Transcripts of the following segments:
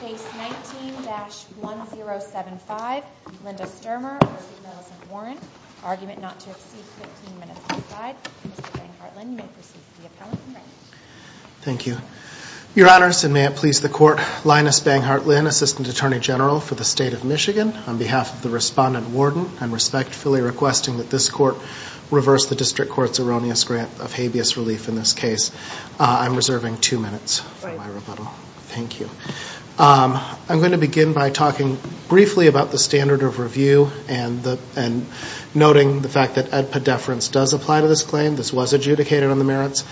Case 19-1075, Linda Stermer v. Millicent Warren. Argument not to exceed 15 minutes per slide. Mr. Bang-Hartland, you may proceed to the appellant in red. Thank you. Your Honors, and may it please the Court, Linus Bang-Hartland, Assistant Attorney General for the State of Michigan, on behalf of the Respondent Warden, I'm respectfully requesting that this Court reverse the District Court's erroneous grant of habeas relief in this case. I'm reserving two minutes for my rebuttal. Thank you. I'm going to begin by talking briefly about the standard of review and noting the fact that ad pedeference does apply to this claim. This was adjudicated on the merits.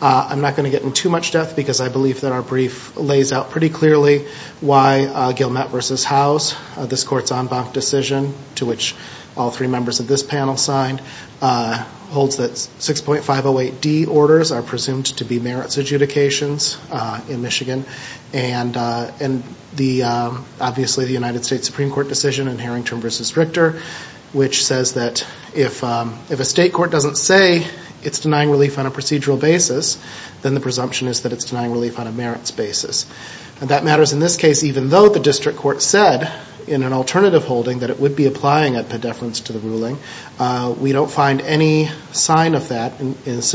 I'm not going to get into too much depth because I believe that our brief lays out pretty clearly why Gilmette v. House, this Court's en banc decision to which all three members of this panel signed, holds that 6.508D orders are presumed to be merits adjudications in Michigan, and obviously the United States Supreme Court decision in Harrington v. Richter, which says that if a state court doesn't say it's denying relief on a procedural basis, then the presumption is that it's denying relief on a merits basis. That matters in this case even though the District Court said in an alternative holding that it would be applying ad pedeference to the ruling. We don't find any sign of that. This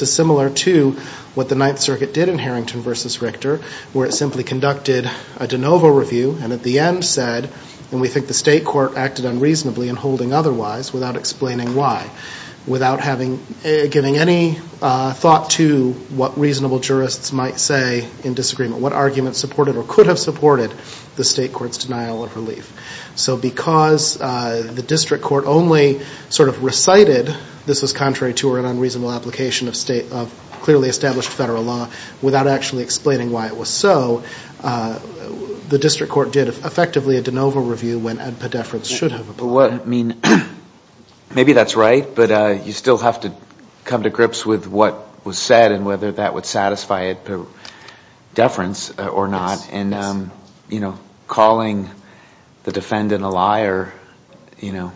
is similar to what the Ninth Circuit did in Harrington v. Richter, where it simply conducted a de novo review and at the end said, and we think the state court acted unreasonably in holding otherwise without explaining why, without giving any thought to what reasonable jurists might say in disagreement, what argument supported or could have supported the state court's denial of relief. So because the District Court only sort of recited this was contrary to or an unreasonable application of clearly established federal law without actually explaining why it was so, the District Court did effectively a de novo review when ad pedeference should have applied. So what, I mean, maybe that's right, but you still have to come to grips with what was said and whether that would satisfy ad pedeference or not. And, you know, calling the defendant a liar, you know,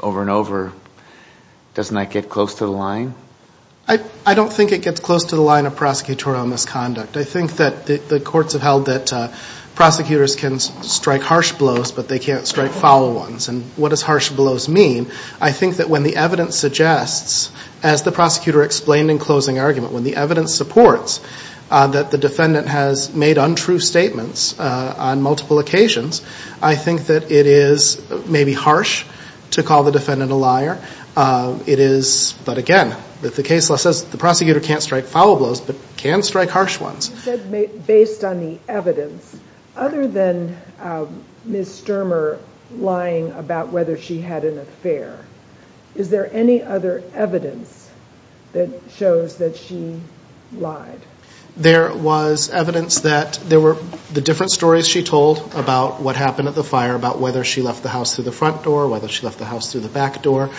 over and over, doesn't that get close to the line? I don't think it gets close to the line of prosecutorial misconduct. I think that the courts have held that prosecutors can strike harsh blows, but they can't strike foul ones. And what does harsh blows mean? I think that when the evidence suggests, as the prosecutor explained in closing argument, when the evidence supports that the defendant has made untrue statements on multiple occasions, I think that it is maybe harsh to call the defendant a liar. It is, but again, the case law says the prosecutor can't strike foul blows, but can strike harsh ones. You said based on the evidence. Other than Ms. Stermer lying about whether she had an affair, is there any other evidence that shows that she lied? There was evidence that there were the different stories she told about what happened at the fire, about whether she left the house through the front door, whether she left the house through the back door.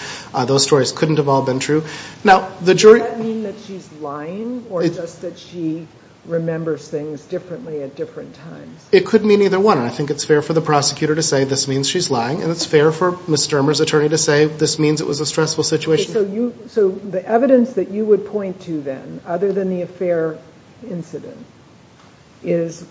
Those stories couldn't have all been true. Does that mean that she's lying or just that she remembers things differently at different times? It could mean either one. I think it's fair for the prosecutor to say this means she's lying, and it's fair for Ms. Stermer's attorney to say this means it was a stressful situation. So the evidence that you would point to then, other than the affair incident, is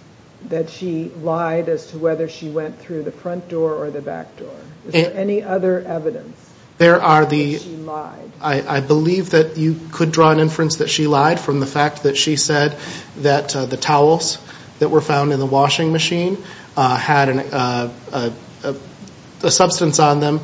that she lied as to whether she went through the front door or the back door. Is there any other evidence that she lied? I believe that you could draw an inference that she lied from the fact that she said that the towels that were found in the washing machine had a substance on them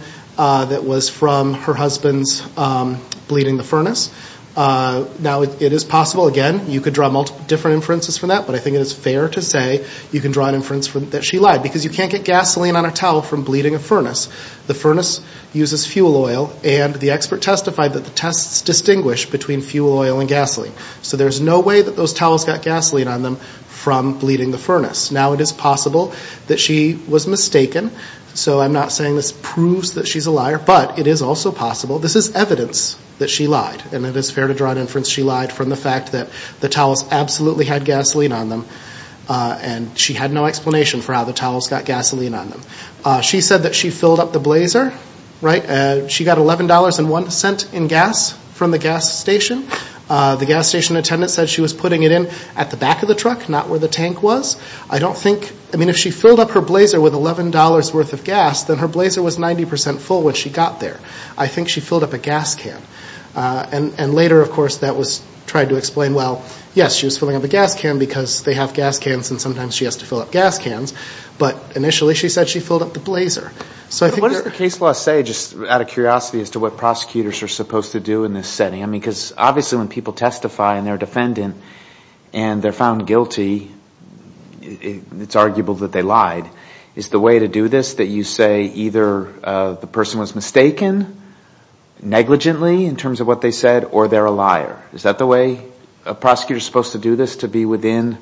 Now, it is possible, again, you could draw different inferences from that, but I think it is fair to say you can draw an inference that she lied, because you can't get gasoline on a towel from bleeding a furnace. The furnace uses fuel oil, and the expert testified that the tests distinguish between fuel oil and gasoline. So there's no way that those towels got gasoline on them from bleeding the furnace. Now it is possible that she was mistaken, so I'm not saying this proves that she's a liar, but it is also possible, this is evidence that she lied, and it is fair to draw an inference that she lied from the fact that the towels absolutely had gasoline on them, and she had no explanation for how the towels got gasoline on them. She said that she filled up the blazer, right? She got $11.01 in gas from the gas station. The gas station attendant said she was putting it in at the back of the truck, not where the tank was. I mean, if she filled up her blazer with $11.00 worth of gas, then her blazer was 90% full when she got there. I think she filled up a gas can. And later, of course, that was tried to explain, well, yes, she was filling up a gas can, because they have gas cans and sometimes she has to fill up gas cans, but initially she said she filled up the blazer. So I think there are... But what does the case law say, just out of curiosity, as to what prosecutors are supposed to do in this setting? I mean, because obviously when people testify and they're a defendant and they're found guilty, it's arguable that they lied. Is the way to do this that you say either the person was mistaken negligently in terms of what they said, or they're a liar? Is that the way prosecutors are supposed to do this, to be within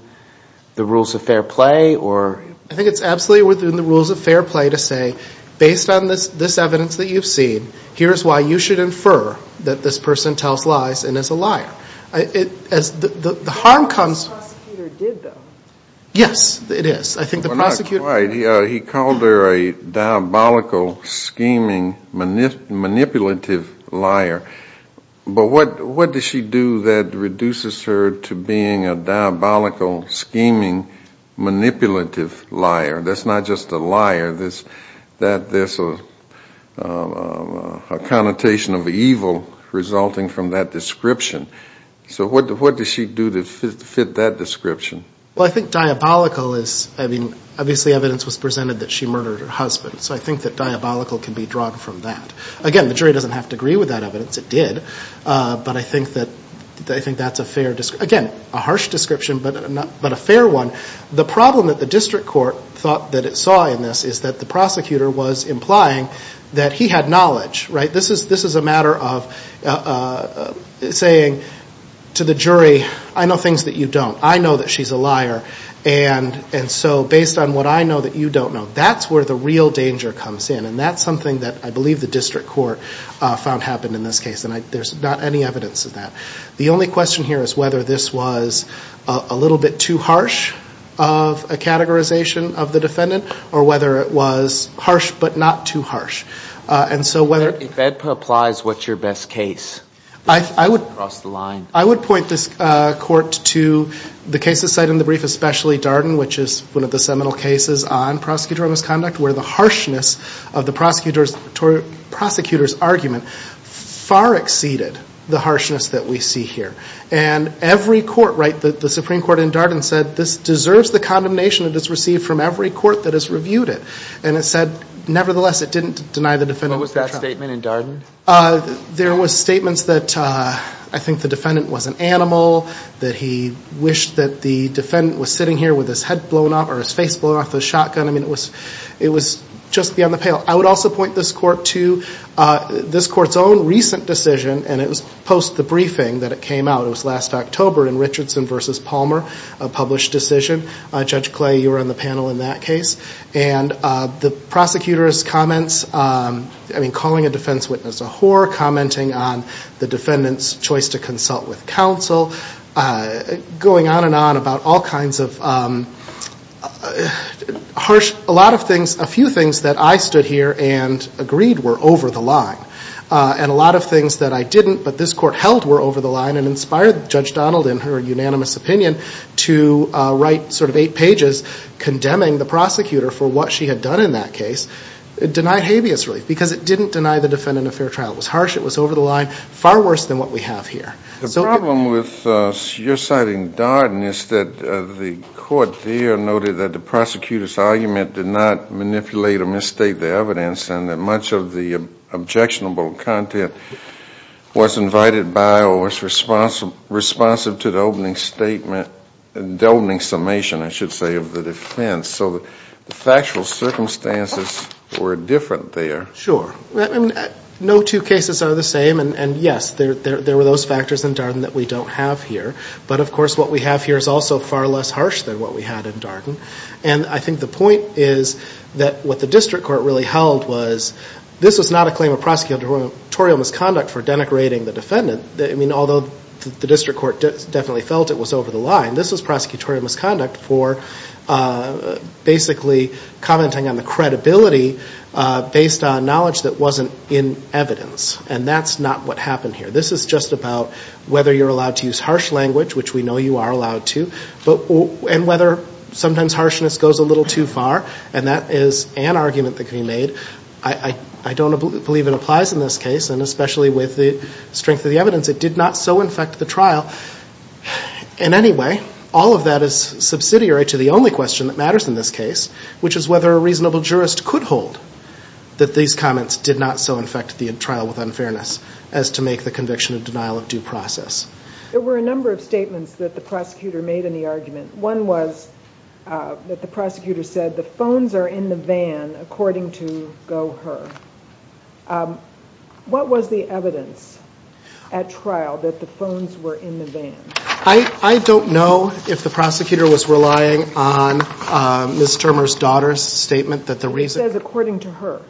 the rules of fair play? I think it's absolutely within the rules of fair play to say, based on this evidence that you've seen, here's why you should infer that this person tells lies and is a liar. The harm comes... But the prosecutor did, though. Yes, it is. I think the prosecutor... Well, not quite. He called her a diabolical, scheming, manipulative liar. But what does she do that reduces her to being a diabolical, scheming, manipulative liar? That's not just a liar. There's a connotation of evil resulting from that description. So what does she do to fit that description? Well, I think diabolical is... I mean, obviously evidence was presented that she murdered her husband. So I think that diabolical can be drawn from that. Again, the jury doesn't have to agree with that evidence. It did. But I think that's a fair... Again, a harsh description, but a fair one. The problem that the district court thought that it saw in this is that the prosecutor was implying that he had knowledge. This is a matter of saying to the jury, I know things that you don't. I know that she's a liar. And so based on what I know that you don't know, that's where the real danger comes in. And that's something that I believe the district court found happened in this case. And there's not any evidence of that. The only question here is whether this was a little bit too harsh of a categorization of the defendant, or whether it was harsh but not too harsh. And so whether... If that applies, what's your best case? I would... Across the line. I would point this court to the cases cited in the brief, especially Darden, which is one of the seminal cases on prosecutorial misconduct, where the harshness of the prosecutor's argument far exceeded the harshness that we see here. And every court, right, the Supreme Court in Darden said, this deserves the condemnation it has received from every court that has reviewed it. And it said, nevertheless, it didn't deny the defendant... What was that statement in Darden? There was statements that I think the defendant was an animal, that he wished that the defendant was sitting here with his head blown off or his face blown off the shotgun. I mean, it was just beyond the pale. I would also point this court to... This court's own recent decision, and it was post the briefing that it came out, it was last October in Richardson v. Palmer, a published decision. Judge Clay, you were on the panel in that case. And the prosecutor's comments, I mean, calling a defense witness a whore, commenting on the defendant's choice to consult with counsel, going on and on about all kinds of harsh... A lot of things, a few things that I stood here and agreed were over the line. And a lot of things that I didn't but this court held were over the line and inspired Judge Donald in her unanimous opinion to write sort of eight pages condemning the prosecutor for what she had done in that case. It denied habeas relief because it didn't deny the defendant a fair trial. It was harsh, it was over the line, far worse than what we have here. The problem with your side in Darden is that the court there noted that the prosecutor's argument did not manipulate or misstate the evidence and that much of the objectionable content was invited by or was responsive to the opening statement, the opening summation, I should say, of the defense. So the factual circumstances were different there. Sure. No two cases are the same. And, yes, there were those factors in Darden that we don't have here. But, of course, what we have here is also far less harsh than what we had in Darden. And I think the point is that what the district court really held was this was not a claim of prosecutorial misconduct for denigrating the defendant. I mean, although the district court definitely felt it was over the line, this was prosecutorial misconduct for basically commenting on the credibility based on knowledge that wasn't in evidence. And that's not what happened here. This is just about whether you're allowed to use harsh language, which we know you are allowed to, and whether sometimes harshness goes a little too far. And that is an argument that can be made. I don't believe it applies in this case, and especially with the strength of the evidence. It did not so infect the trial. In any way, all of that is subsidiary to the only question that matters in this case, which is whether a reasonable jurist could hold that these comments did not so infect the trial with unfairness as to make the conviction of denial of due process. There were a number of statements that the prosecutor made in the argument. One was that the prosecutor said the phones are in the van, according to GoHer. What was the evidence at trial that the phones were in the van? I don't know if the prosecutor was relying on Ms. Termer's daughter's statement that the reason – He says according to her.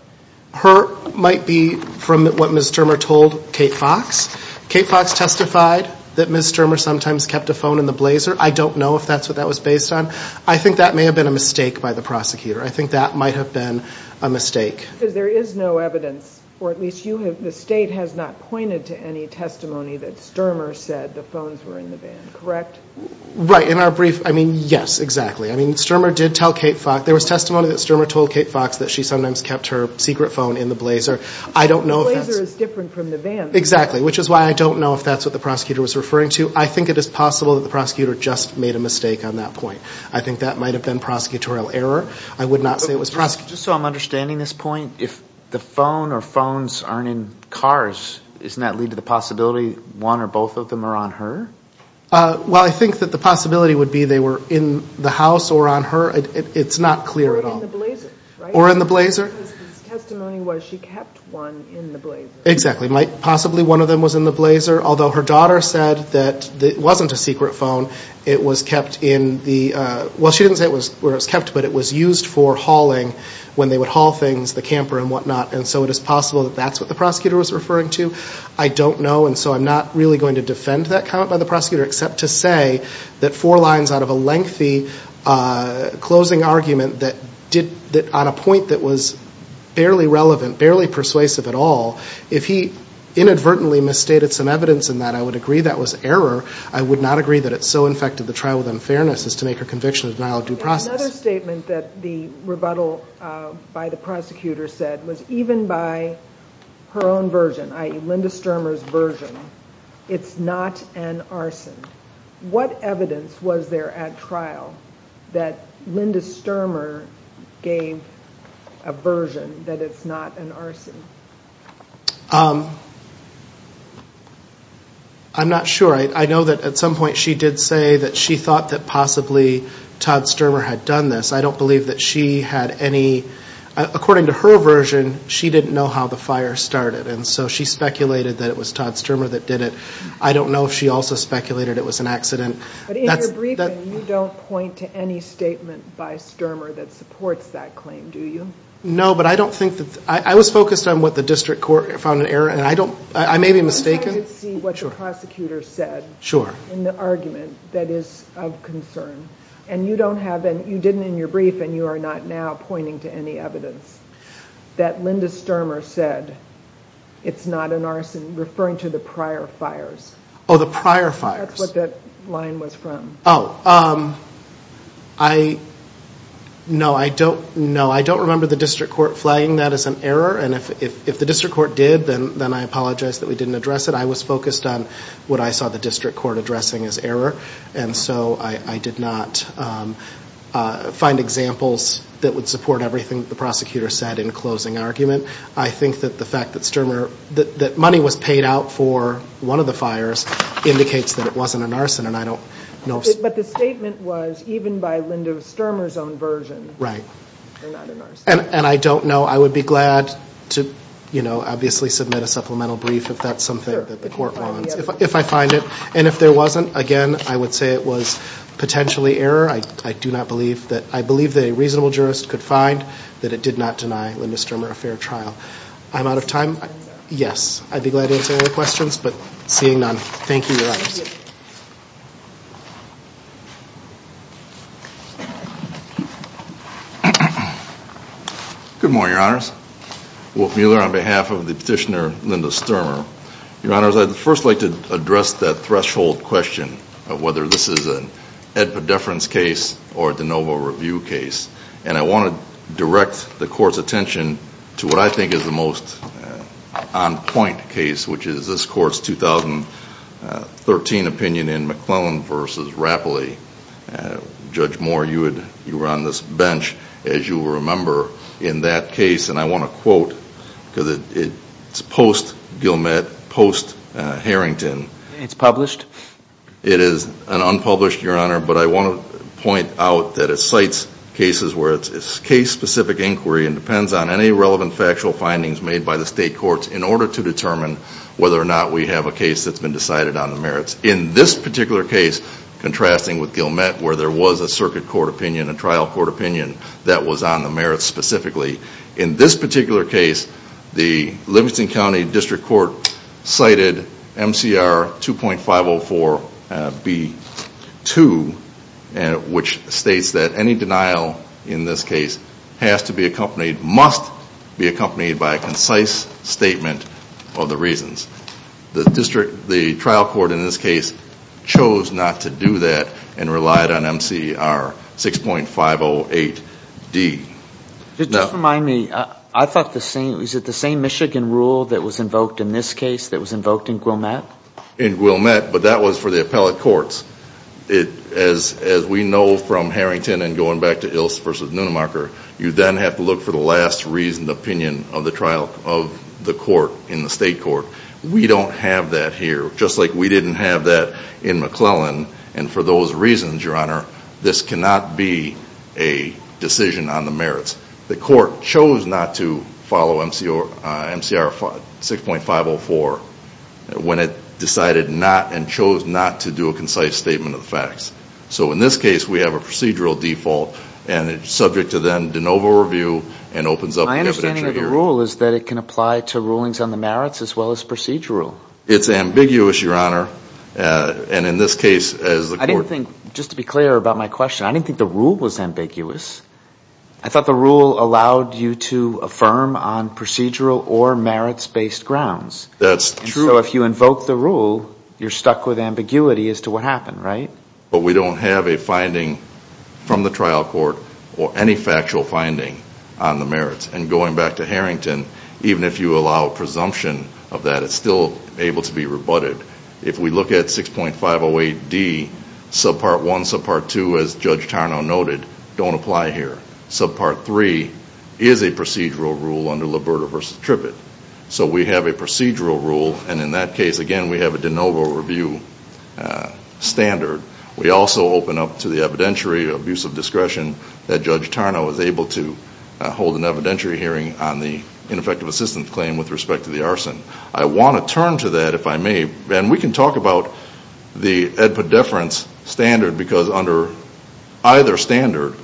Her might be from what Ms. Termer told Kate Fox. Kate Fox testified that Ms. Termer sometimes kept a phone in the blazer. I don't know if that's what that was based on. I think that may have been a mistake by the prosecutor. I think that might have been a mistake. Because there is no evidence, or at least you have – the State has not pointed to any testimony that Stermer said the phones were in the van, correct? Right. In our brief – I mean, yes, exactly. I mean, Stermer did tell Kate Fox – There was testimony that Stermer told Kate Fox that she sometimes kept her secret phone in the blazer. I don't know if that's – The blazer is different from the van. Exactly, which is why I don't know if that's what the prosecutor was referring to. I think it is possible that the prosecutor just made a mistake on that point. I think that might have been prosecutorial error. I would not say it was – Just so I'm understanding this point, if the phone or phones aren't in cars, doesn't that lead to the possibility one or both of them are on her? Well, I think that the possibility would be they were in the house or on her. It's not clear at all. Or in the blazer, right? Or in the blazer. Because the testimony was she kept one in the blazer. Exactly. Possibly one of them was in the blazer, although her daughter said that it wasn't a secret phone. It was kept in the – well, she didn't say where it was kept, but it was used for hauling when they would haul things, the camper and whatnot. And so it is possible that that's what the prosecutor was referring to. except to say that four lines out of a lengthy closing argument that on a point that was barely relevant, barely persuasive at all, if he inadvertently misstated some evidence in that, I would agree that was error. I would not agree that it so infected the trial with unfairness as to make her conviction a denial of due process. Another statement that the rebuttal by the prosecutor said was even by her own version, i.e. Linda Stermer's version, it's not an arson. What evidence was there at trial that Linda Stermer gave a version that it's not an arson? I'm not sure. I know that at some point she did say that she thought that possibly Todd Stermer had done this. I don't believe that she had any – according to her version, she didn't know how the fire started. And so she speculated that it was Todd Stermer that did it. I don't know if she also speculated it was an accident. But in your briefing, you don't point to any statement by Stermer that supports that claim, do you? No, but I don't think that – I was focused on what the district court found an error in. I may be mistaken. But I did see what the prosecutor said in the argument that is of concern. And you don't have any – you didn't in your briefing, and you are not now pointing to any evidence that Linda Stermer said it's not an arson, referring to the prior fires. Oh, the prior fires. That's what that line was from. Oh, I – no, I don't – no, I don't remember the district court flagging that as an error. And if the district court did, then I apologize that we didn't address it. I was focused on what I saw the district court addressing as error. And so I did not find examples that would support everything the prosecutor said in closing argument. I think that the fact that Stermer – that money was paid out for one of the fires indicates that it wasn't an arson, and I don't know if – But the statement was even by Linda Stermer's own version. Right. They're not an arson. And I don't know. I would be glad to, you know, obviously submit a supplemental brief if that's something that the court wants. If I find it. And if there wasn't, again, I would say it was potentially error. I do not believe that – I believe that a reasonable jurist could find that it did not deny Linda Stermer a fair trial. I'm out of time? Yes. I'd be glad to answer any questions, but seeing none, thank you, Your Honors. Good morning, Your Honors. Wolf Mueller on behalf of the petitioner Linda Stermer. Your Honors, I'd first like to address that threshold question of whether this is an Ed Pedefran's case or a de novo review case, and I want to direct the court's attention to what I think is the most on point case, which is this court's 2013 opinion in McClellan v. Rapoli. Judge Moore, you were on this bench, as you remember, in that case, and I want to quote because it's post-Gilmette, post-Harrington. It's published? It is unpublished, Your Honor, but I want to point out that it cites cases where it's case-specific inquiry and depends on any relevant factual findings made by the state courts in order to determine whether or not we have a case that's been decided on the merits. In this particular case, contrasting with Gilmette where there was a circuit court opinion, a trial court opinion that was on the merits specifically, in this particular case, the Livingston County District Court cited MCR 2.504B2, which states that any denial in this case has to be accompanied, must be accompanied by a concise statement of the reasons. The trial court in this case chose not to do that and relied on MCR 6.508D. It does remind me, I thought the same, was it the same Michigan rule that was invoked in this case that was invoked in Gilmette? In Gilmette, but that was for the appellate courts. As we know from Harrington and going back to Ilse v. Nunnemarker, you then have to look for the last reasoned opinion of the trial of the court in the state court. We don't have that here, just like we didn't have that in McClellan, and for those reasons, Your Honor, this cannot be a decision on the merits. The court chose not to follow MCR 6.504 when it decided not and chose not to do a concise statement of the facts. So in this case, we have a procedural default, and it's subject to then de novo review and opens up the evidentiary hearing. My understanding of the rule is that it can apply to rulings on the merits as well as procedural. It's ambiguous, Your Honor, and in this case as the court... I didn't think, just to be clear about my question, I didn't think the rule was ambiguous. I thought the rule allowed you to affirm on procedural or merits-based grounds. That's true. So if you invoke the rule, you're stuck with ambiguity as to what happened, right? But we don't have a finding from the trial court or any factual finding on the merits, and going back to Harrington, even if you allow presumption of that, it's still able to be rebutted. If we look at 6.508D, subpart 1, subpart 2, as Judge Tarnow noted, don't apply here. Subpart 3 is a procedural rule under Liberta v. Trippett. So we have a procedural rule, and in that case, again, we have a de novo review standard. We also open up to the evidentiary abuse of discretion that Judge Tarnow is able to hold an evidentiary hearing on the ineffective assistance claim with respect to the arson. I want to turn to that, if I may, and we can talk about the Ed Poddeference standard because under either standard,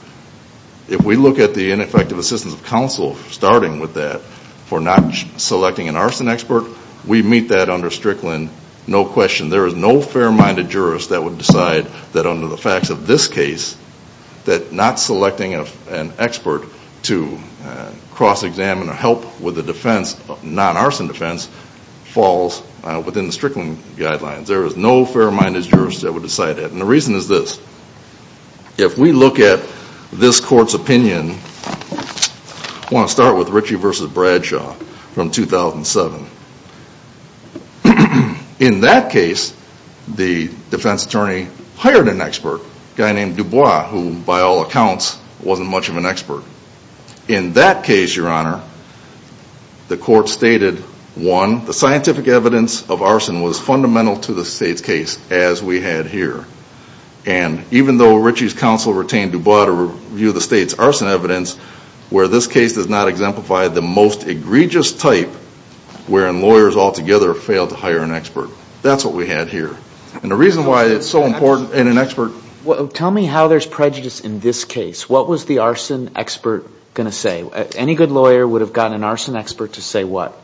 if we look at the ineffective assistance of counsel, starting with that, for not selecting an arson expert, we meet that under Strickland, no question. There is no fair-minded jurist that would decide that under the facts of this case that not selecting an expert to cross-examine or help with the defense, non-arson defense, falls within the Strickland guidelines. There is no fair-minded jurist that would decide that, and the reason is this. If we look at this court's opinion, I want to start with Ritchie v. Bradshaw from 2007. In that case, the defense attorney hired an expert, a guy named Dubois, who by all accounts wasn't much of an expert. In that case, Your Honor, the court stated, one, the scientific evidence of arson was fundamental to the state's case, as we had here, and even though Ritchie's counsel retained Dubois to review the state's arson evidence, where this case does not exemplify the most egregious type, wherein lawyers altogether fail to hire an expert. That's what we had here, and the reason why it's so important, and an expert... Tell me how there's prejudice in this case. What was the arson expert going to say? Any good lawyer would have gotten an arson expert to say what?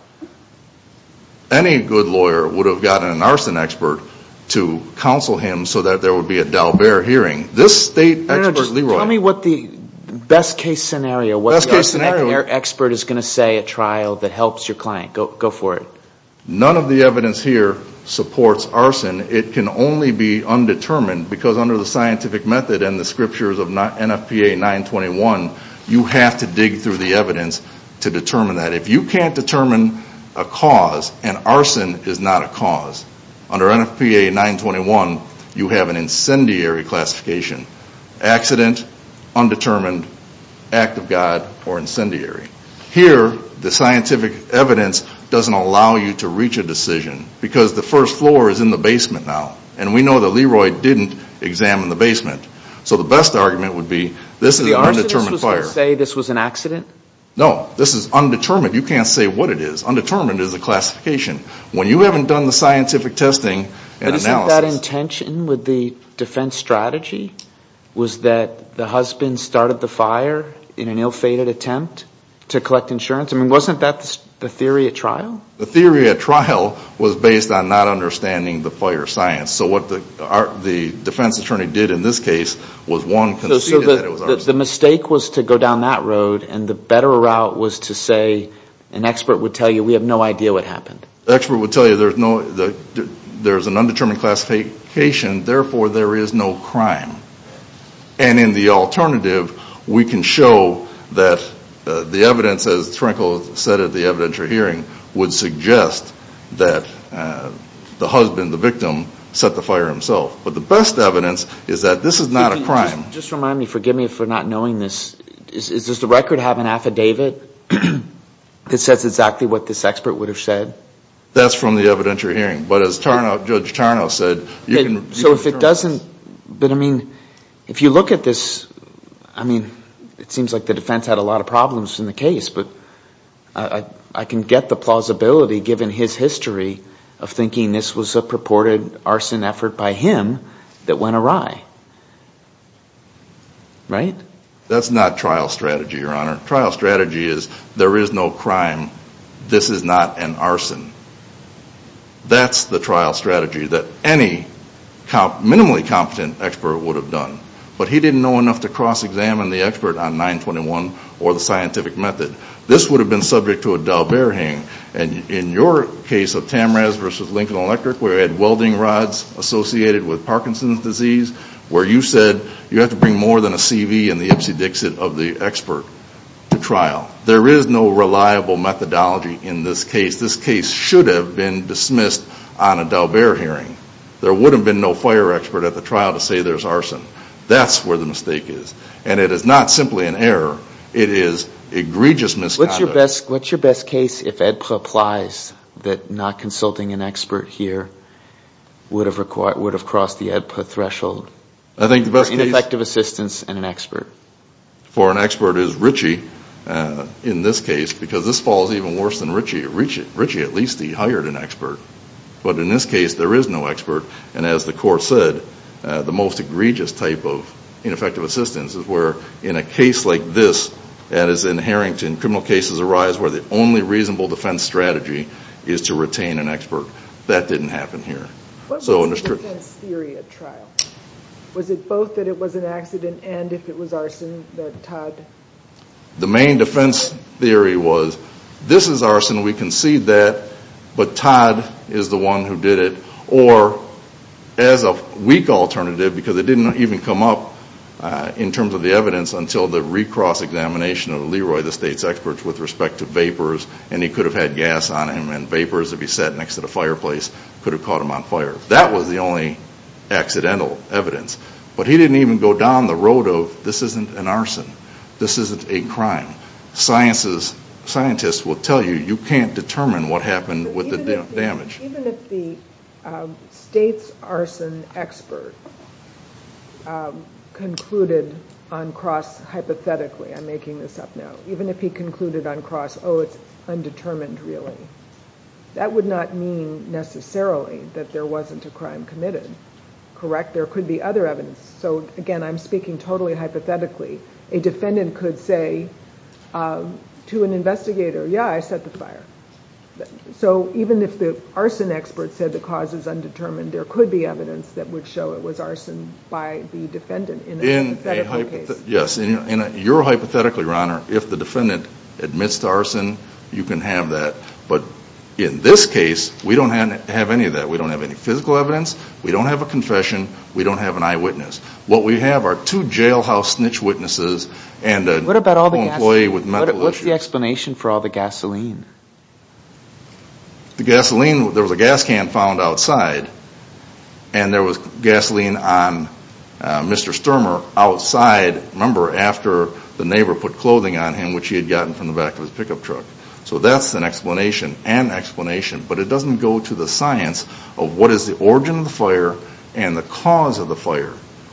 Any good lawyer would have gotten an arson expert to counsel him so that there would be a Dalbert hearing. This state expert, Leroy... Best case scenario, what the arson expert is going to say at trial that helps your client. Go for it. None of the evidence here supports arson. It can only be undetermined, because under the scientific method and the scriptures of NFPA 921, you have to dig through the evidence to determine that. If you can't determine a cause, and arson is not a cause, under NFPA 921, you have an incendiary classification. Accident, undetermined, act of God, or incendiary. Here, the scientific evidence doesn't allow you to reach a decision, because the first floor is in the basement now, and we know that Leroy didn't examine the basement. So the best argument would be this is an undetermined fire. Did the arsonist say this was an accident? No. This is undetermined. You can't say what it is. Undetermined is a classification. When you haven't done the scientific testing and analysis... Was that the husband started the fire in an ill-fated attempt to collect insurance? I mean, wasn't that the theory at trial? The theory at trial was based on not understanding the fire science. So what the defense attorney did in this case was one, conceded that it was arson. So the mistake was to go down that road, and the better route was to say an expert would tell you we have no idea what happened. The expert would tell you there's an undetermined classification, therefore there is no crime. And in the alternative, we can show that the evidence, as Trenkle said at the evidentiary hearing, would suggest that the husband, the victim, set the fire himself. But the best evidence is that this is not a crime. Just remind me, forgive me for not knowing this, does the record have an affidavit that says exactly what this expert would have said? That's from the evidentiary hearing. But as Judge Tarnow said, you can determine this. So if it doesn't, but I mean, if you look at this, I mean it seems like the defense had a lot of problems in the case, but I can get the plausibility given his history of thinking this was a purported arson effort by him that went awry. Right? That's not trial strategy, Your Honor. Trial strategy is there is no crime. This is not an arson. That's the trial strategy that any minimally competent expert would have done. But he didn't know enough to cross-examine the expert on 921 or the scientific method. This would have been subject to a d'Alberti. And in your case of Tamrez versus Lincoln Electric, where we had welding rods associated with Parkinson's disease, where you said you have to bring more than a CV and the Ipsy Dixit of the expert to trial. There is no reliable methodology in this case. This case should have been dismissed on a d'Alberti hearing. There would have been no fire expert at the trial to say there's arson. That's where the mistake is. And it is not simply an error. It is egregious misconduct. What's your best case if AEDPA applies that not consulting an expert here would have crossed the AEDPA threshold? I think the best case. For ineffective assistance and an expert. For an expert is Ritchie, in this case, because this falls even worse than Ritchie. At least he hired an expert. But in this case, there is no expert. And as the court said, the most egregious type of ineffective assistance is where, in a case like this, and as in Harrington, criminal cases arise where the only reasonable defense strategy is to retain an expert. That didn't happen here. What was the defense theory at trial? Was it both that it was an accident and if it was arson that Todd? The main defense theory was, this is arson. We concede that. But Todd is the one who did it. Or, as a weak alternative, because it didn't even come up in terms of the evidence until the recross examination of Leroy, the state's expert, with respect to vapors. And he could have had gas on him. And vapors, if he sat next to the fireplace, could have caught him on fire. That was the only accidental evidence. But he didn't even go down the road of, this isn't an arson. This isn't a crime. Scientists will tell you, you can't determine what happened with the damage. Even if the state's arson expert concluded on cross, hypothetically, I'm making this up now, even if he concluded on cross, oh, it's undetermined really, that would not mean necessarily that there wasn't a crime committed. Correct? There could be other evidence. So, again, I'm speaking totally hypothetically. A defendant could say to an investigator, yeah, I set the fire. So even if the arson expert said the cause is undetermined, there could be evidence that would show it was arson by the defendant in a hypothetical case. Yes. And you're hypothetically, Your Honor, if the defendant admits to arson, you can have that. But in this case, we don't have any of that. We don't have any physical evidence. We don't have a confession. We don't have an eyewitness. What we have are two jailhouse snitch witnesses and an employee with mental issues. What's the explanation for all the gasoline? The gasoline, there was a gas can found outside, and there was gasoline on Mr. Stermer outside, remember, after the neighbor put clothing on him, which he had gotten from the back of his pickup truck. So that's an explanation, an explanation, but it doesn't go to the science of what is the origin of the fire and the cause of the fire.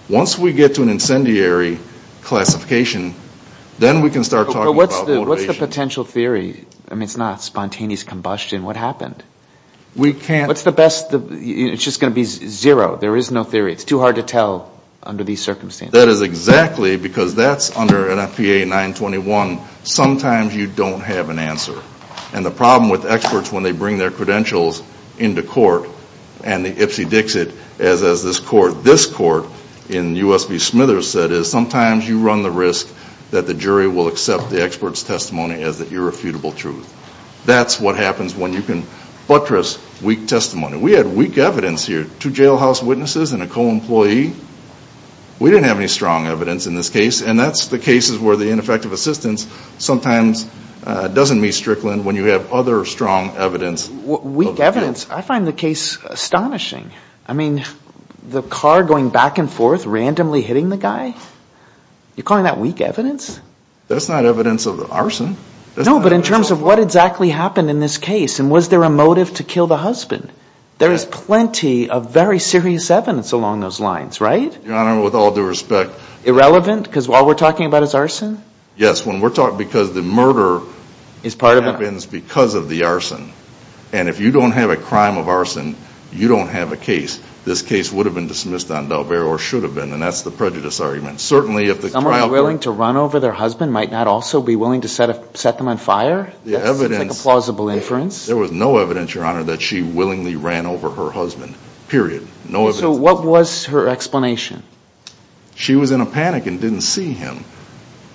Once we get to an incendiary classification, then we can start talking about motivation. What's the potential theory? I mean, it's not spontaneous combustion. What happened? We can't What's the best? It's just going to be zero. There is no theory. It's too hard to tell under these circumstances. That is exactly because that's under NFPA 921. Sometimes you don't have an answer, and the problem with experts when they bring their credentials into court, and the Ipsy Dixit, as this court in U.S. v. Smithers said, is sometimes you run the risk that the jury will accept the expert's testimony as the irrefutable truth. That's what happens when you can buttress weak testimony. We had weak evidence here. Two jailhouse witnesses and a co-employee. We didn't have any strong evidence in this case, and that's the cases where the ineffective assistance sometimes doesn't meet Strickland when you have other strong evidence. Weak evidence? I find the case astonishing. I mean, the car going back and forth, randomly hitting the guy? You're calling that weak evidence? That's not evidence of arson. No, but in terms of what exactly happened in this case, and was there a motive to kill the husband? There is plenty of very serious evidence along those lines, right? Your Honor, with all due respect. Irrelevant because all we're talking about is arson? Yes, because the murder happens because of the arson, and if you don't have a crime of arson, you don't have a case. This case would have been dismissed on d'Albert or should have been, and that's the prejudice argument. Someone willing to run over their husband might not also be willing to set them on fire? That's a plausible inference. There was no evidence, Your Honor, that she willingly ran over her husband, period. So what was her explanation? She was in a panic and didn't see him.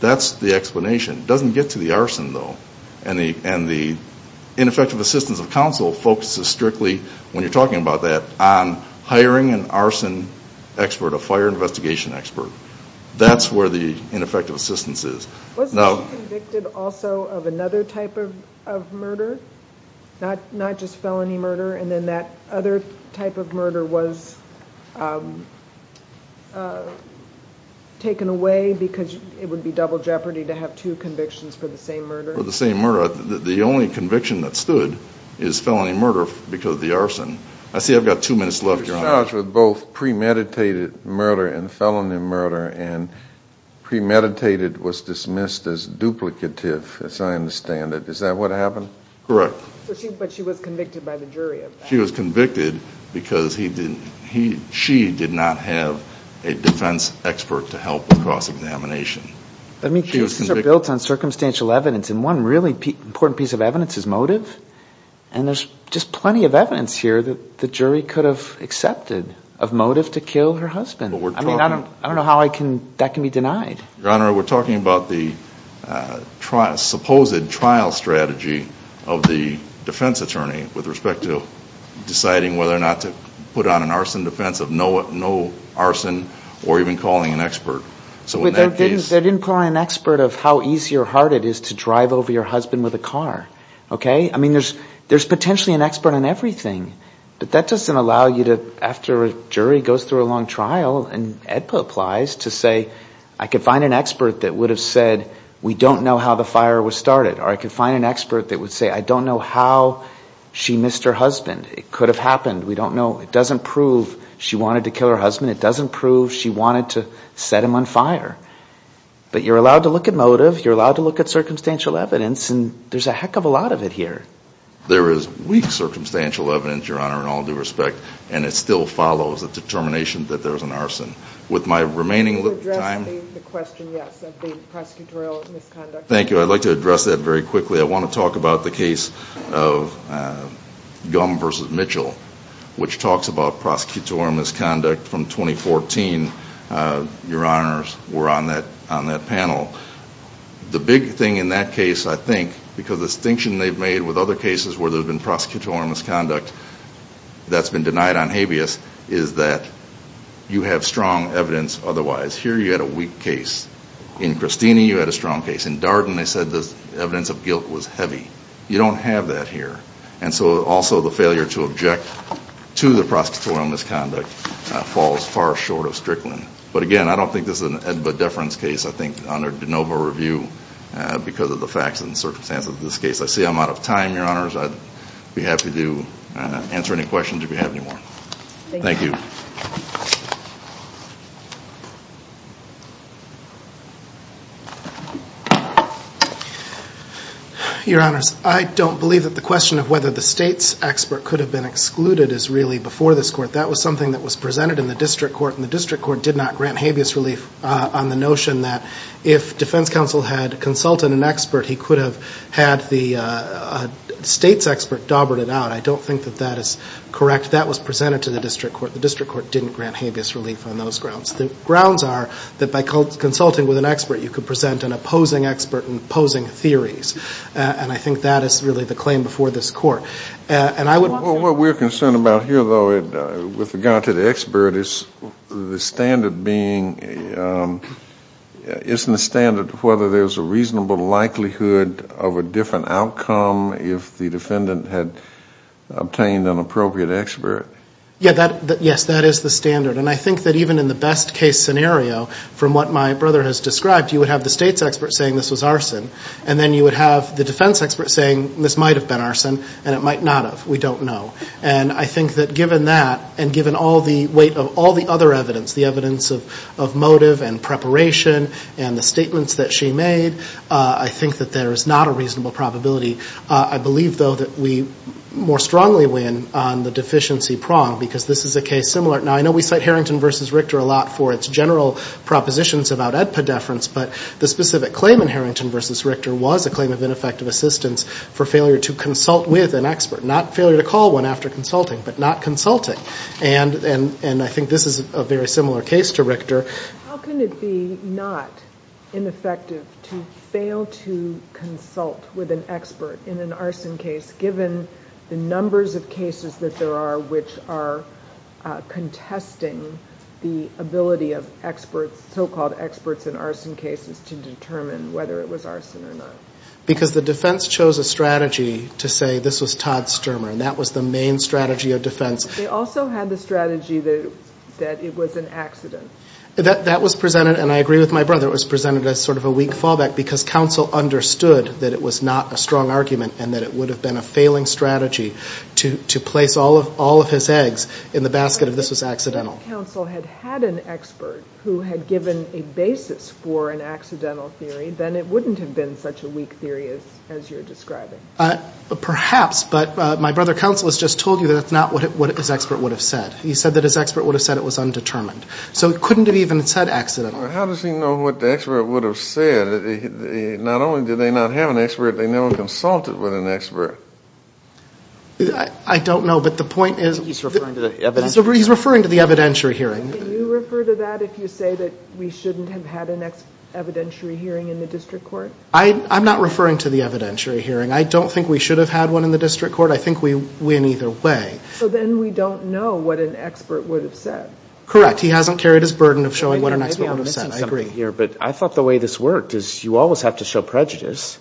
That's the explanation. It doesn't get to the arson, though, and the ineffective assistance of counsel focuses strictly, when you're talking about that, on hiring an arson expert, a fire investigation expert. That's where the ineffective assistance is. Was she convicted also of another type of murder, not just felony murder, and then that other type of murder was taken away because it would be double jeopardy to have two convictions for the same murder? For the same murder. The only conviction that stood is felony murder because of the arson. I see I've got two minutes left, Your Honor. She was charged with both premeditated murder and felony murder, and premeditated was dismissed as duplicative, as I understand it. Is that what happened? Correct. But she was convicted by the jury of that. She was convicted because she did not have a defense expert to help with cross-examination. I mean, cases are built on circumstantial evidence, and one really important piece of evidence is motive, and there's just plenty of evidence here that the jury could have accepted of motive to kill her husband. I don't know how that can be denied. Your Honor, we're talking about the supposed trial strategy of the defense attorney with respect to deciding whether or not to put on an arson defense of no arson or even calling an expert. But they didn't put on an expert of how easy or hard it is to drive over your husband with a car, okay? I mean, there's potentially an expert on everything, but that doesn't allow you to, after a jury goes through a long trial, and AEDPA applies, to say, I could find an expert that would have said, we don't know how the fire was started, or I could find an expert that would say, I don't know how she missed her husband. It could have happened. It doesn't prove she wanted to kill her husband. It doesn't prove she wanted to set him on fire. But you're allowed to look at motive, you're allowed to look at circumstantial evidence, and there's a heck of a lot of it here. There is weak circumstantial evidence, Your Honor, in all due respect, and it still follows a determination that there was an arson. With my remaining time... Can you address the question, yes, of the prosecutorial misconduct? Thank you. I'd like to address that very quickly. I want to talk about the case of Gum v. Mitchell, which talks about prosecutorial misconduct from 2014. Your Honors were on that panel. The big thing in that case, I think, because the distinction they've made with other cases where there's been prosecutorial misconduct that's been denied on habeas, is that you have strong evidence otherwise. Here you had a weak case. In Cristini, you had a strong case. In Darden, they said the evidence of guilt was heavy. You don't have that here. And so, also, the failure to object to the prosecutorial misconduct falls far short of Strickland. But again, I don't think this is an ed-ba-deference case, I think, under de novo review because of the facts and circumstances of this case. I see I'm out of time, Your Honors. I'd be happy to answer any questions if you have any more. Thank you. Your Honors, I don't believe that the question of whether the state's expert could have been excluded is really before this court. That was something that was presented in the district court, and the district court did not grant habeas relief on the notion that if defense counsel had consulted an expert, he could have had the state's expert daubered it out. I don't think that that is correct. That was presented to the district court. The district court didn't grant habeas relief on those grounds. The grounds are that by consulting with an expert, you could present an opposing expert in opposing theories. And I think that is really the claim before this court. What we're concerned about here, though, with regard to the expert, is the standard being, isn't the standard whether there's a reasonable likelihood of a different outcome if the defendant had obtained an appropriate expert? Yes, that is the standard. And I think that even in the best-case scenario, from what my brother has described, you would have the state's expert saying this was arson, and then you would have the defense expert saying this might have been arson, and it might not have. We don't know. And I think that given that and given all the weight of all the other evidence, the evidence of motive and preparation and the statements that she made, I think that there is not a reasonable probability. I believe, though, that we more strongly win on the deficiency prong because this is a case similar. Now, I know we cite Harrington v. Richter a lot for its general propositions about epideference, but the specific claim in Harrington v. Richter was a claim of ineffective assistance for failure to consult with an expert, not failure to call one after consulting, but not consulting. And I think this is a very similar case to Richter. How can it be not ineffective to fail to consult with an expert in an arson case, given the numbers of cases that there are which are contesting the ability of experts, so-called experts in arson cases, to determine whether it was arson or not? Because the defense chose a strategy to say this was Todd Stermer, and that was the main strategy of defense. They also had the strategy that it was an accident. That was presented, and I agree with my brother, it was presented as sort of a weak fallback because counsel understood that it was not a strong argument and that it would have been a failing strategy to place all of his eggs in the basket of this was accidental. If counsel had had an expert who had given a basis for an accidental theory, then it wouldn't have been such a weak theory as you're describing. Perhaps, but my brother counsel has just told you that's not what his expert would have said. He said that his expert would have said it was undetermined. So it couldn't have even said accidental. Well, how does he know what the expert would have said? Not only did they not have an expert, they never consulted with an expert. I don't know, but the point is he's referring to the evidentiary hearing. Can you refer to that if you say that we shouldn't have had an evidentiary hearing in the district court? I'm not referring to the evidentiary hearing. I don't think we should have had one in the district court. I think we win either way. So then we don't know what an expert would have said. Correct. He hasn't carried his burden of showing what an expert would have said. I thought the way this worked is you always have to show prejudice.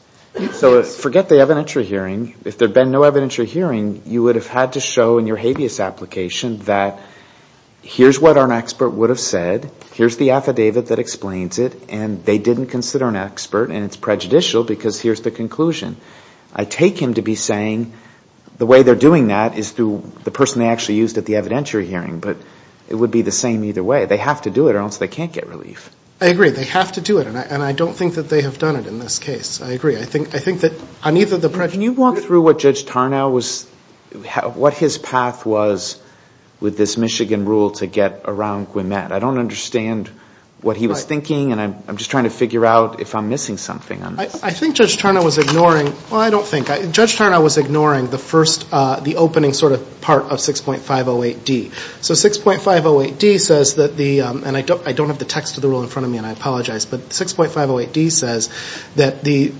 So forget the evidentiary hearing. If there had been no evidentiary hearing, you would have had to show in your habeas application that here's what an expert would have said. Here's the affidavit that explains it. And they didn't consider an expert, and it's prejudicial because here's the conclusion. I take him to be saying the way they're doing that is through the person they actually used at the evidentiary hearing. But it would be the same either way. They have to do it or else they can't get relief. I agree. They have to do it. And I don't think that they have done it in this case. I agree. I think that on either the prejudice. Can you walk through what Judge Tarnow was – what his path was with this Michigan rule to get around Gwimet? I don't understand what he was thinking, and I'm just trying to figure out if I'm missing something on this. I think Judge Tarnow was ignoring – well, I don't think. Judge Tarnow was ignoring the first – the opening sort of part of 6.508D. So 6.508D says that the – and I don't have the text of the rule in front of me, and I apologize. But 6.508D says that the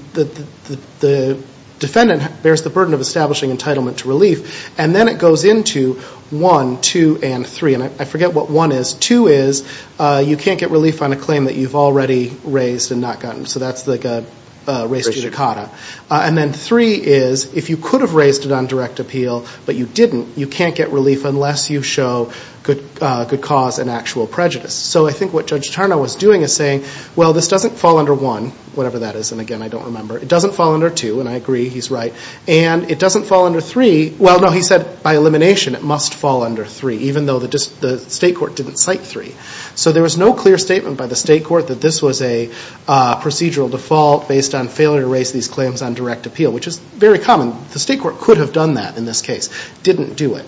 defendant bears the burden of establishing entitlement to relief, and then it goes into 1, 2, and 3. And I forget what 1 is. 2 is you can't get relief on a claim that you've already raised and not gotten. So that's like a res judicata. And then 3 is if you could have raised it on direct appeal but you didn't, you can't get relief unless you show good cause and actual prejudice. So I think what Judge Tarnow was doing is saying, well, this doesn't fall under 1, whatever that is. And again, I don't remember. It doesn't fall under 2, and I agree he's right. And it doesn't fall under 3 – well, no, he said by elimination it must fall under 3, even though the state court didn't cite 3. So there was no clear statement by the state court that this was a procedural default based on failure to raise these claims on direct appeal, which is very common. The state court could have done that in this case. It didn't do it.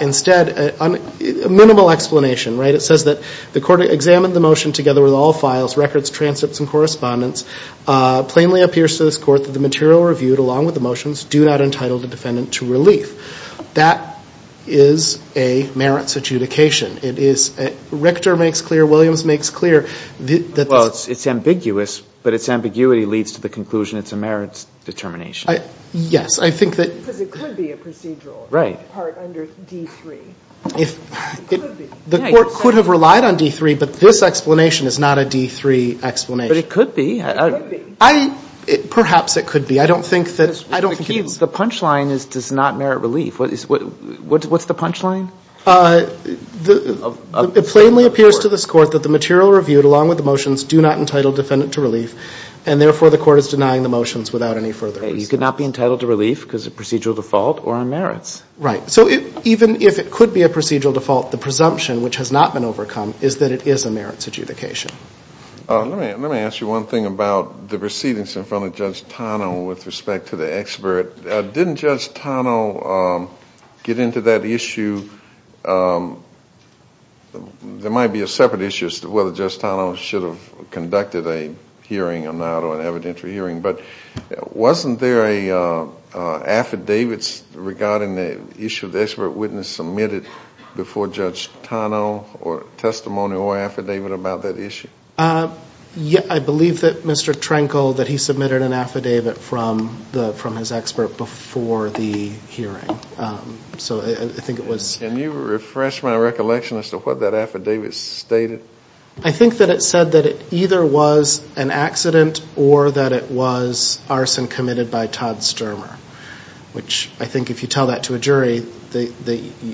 Instead, a minimal explanation, right, it says that the court examined the motion together with all files, records, transcripts, and correspondence. Plainly appears to this court that the material reviewed, along with the motions, do not entitle the defendant to relief. That is a merits adjudication. It is – Richter makes clear, Williams makes clear. Well, it's ambiguous, but its ambiguity leads to the conclusion it's a merits determination. Yes. I think that – Because it could be a procedural part under D3. It could be. The court could have relied on D3, but this explanation is not a D3 explanation. But it could be. It could be. Perhaps it could be. I don't think that – The punchline is does not merit relief. What's the punchline? It plainly appears to this court that the material reviewed, along with the motions, do not entitle the defendant to relief, and therefore the court is denying the motions without any further reason. You could not be entitled to relief because of procedural default or on merits. Right. So even if it could be a procedural default, the presumption, which has not been overcome, is that it is a merits adjudication. Let me ask you one thing about the proceedings in front of Judge Tano with respect to the expert. Didn't Judge Tano get into that issue – there might be a separate issue as to whether Judge Tano should have conducted a hearing or not, or an evidentiary hearing. But wasn't there an affidavit regarding the issue the expert witness submitted before Judge Tano or a testimony or affidavit about that issue? I believe that Mr. Trenkle, that he submitted an affidavit from his expert before the hearing. So I think it was – Can you refresh my recollection as to what that affidavit stated? I think that it said that it either was an accident or that it was arson committed by Todd Stermer, which I think if you tell that to a jury,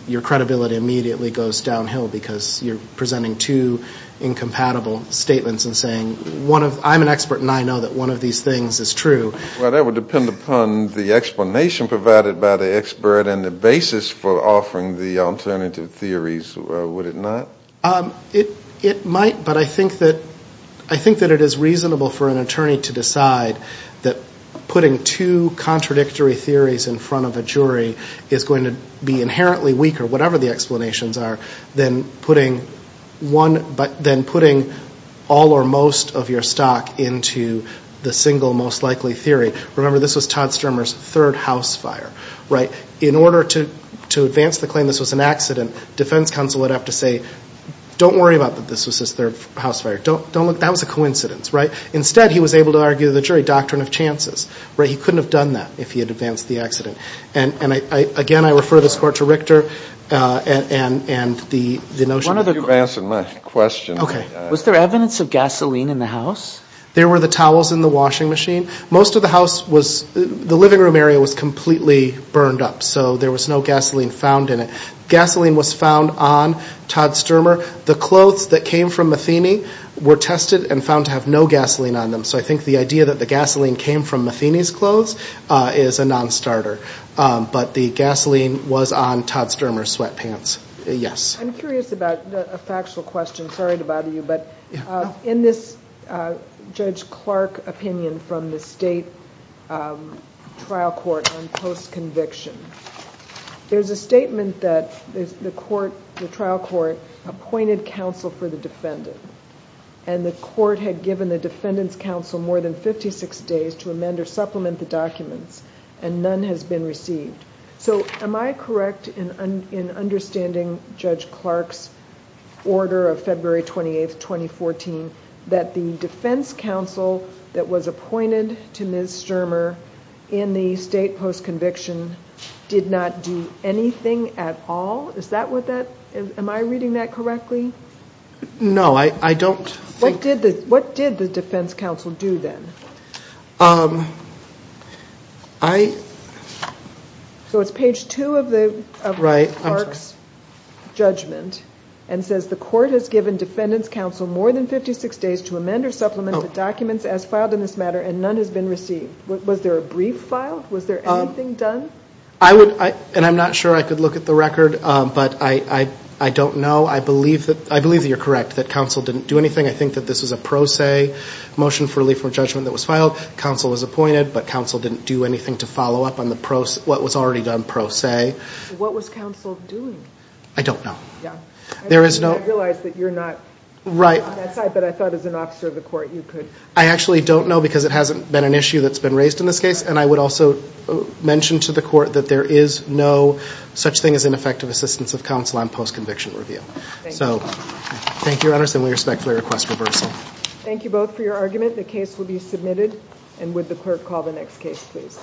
your credibility immediately goes downhill because you're presenting two incompatible statements and saying, I'm an expert and I know that one of these things is true. Well, that would depend upon the explanation provided by the expert and the basis for offering the alternative theories, would it not? It might, but I think that it is reasonable for an attorney to decide that putting two contradictory theories in front of a jury is going to be inherently weaker, whatever the explanations are, than putting all or most of your stock into the single most likely theory. Remember, this was Todd Stermer's third house fire. In order to advance the claim this was an accident, defense counsel would have to say, don't worry about that this was his third house fire. That was a coincidence. Instead, he was able to argue the jury doctrine of chances. He couldn't have done that if he had advanced the accident. And again, I refer this Court to Richter and the notion that – You've answered my question. Okay. Was there evidence of gasoline in the house? There were the towels in the washing machine. Most of the house was – the living room area was completely burned up. So there was no gasoline found in it. Gasoline was found on Todd Stermer. The clothes that came from Matheny were tested and found to have no gasoline on them. So I think the idea that the gasoline came from Matheny's clothes is a non-starter. But the gasoline was on Todd Stermer's sweatpants. Yes. I'm curious about a factual question. Sorry to bother you. But in this Judge Clark opinion from the state trial court on post-conviction, there's a statement that the trial court appointed counsel for the defendant. And the court had given the defendant's counsel more than 56 days to amend or supplement the documents, and none has been received. So am I correct in understanding Judge Clark's order of February 28, 2014, that the defense counsel that was appointed to Ms. Stermer in the state post-conviction did not do anything at all? Is that what that – am I reading that correctly? No, I don't think – What did the defense counsel do then? I – So it's page 2 of Judge Clark's judgment and says, the court has given defendant's counsel more than 56 days to amend or supplement the documents as filed in this matter, and none has been received. Was there a brief filed? Was there anything done? I would – and I'm not sure I could look at the record, but I don't know. I believe that you're correct, that counsel didn't do anything. I think that this was a pro se motion for relief from a judgment that was filed. Counsel was appointed, but counsel didn't do anything to follow up on the pro – what was already done pro se. What was counsel doing? I don't know. Yeah. There is no – I realize that you're not on that side, but I thought as an officer of the court you could – I actually don't know because it hasn't been an issue that's been raised in this case, and I would also mention to the court that there is no such thing as ineffective assistance of counsel on post-conviction review. Thank you. Thank you, Your Honors, and we respectfully request reversal. Thank you both for your argument. The case will be submitted. And would the clerk call the next case, please?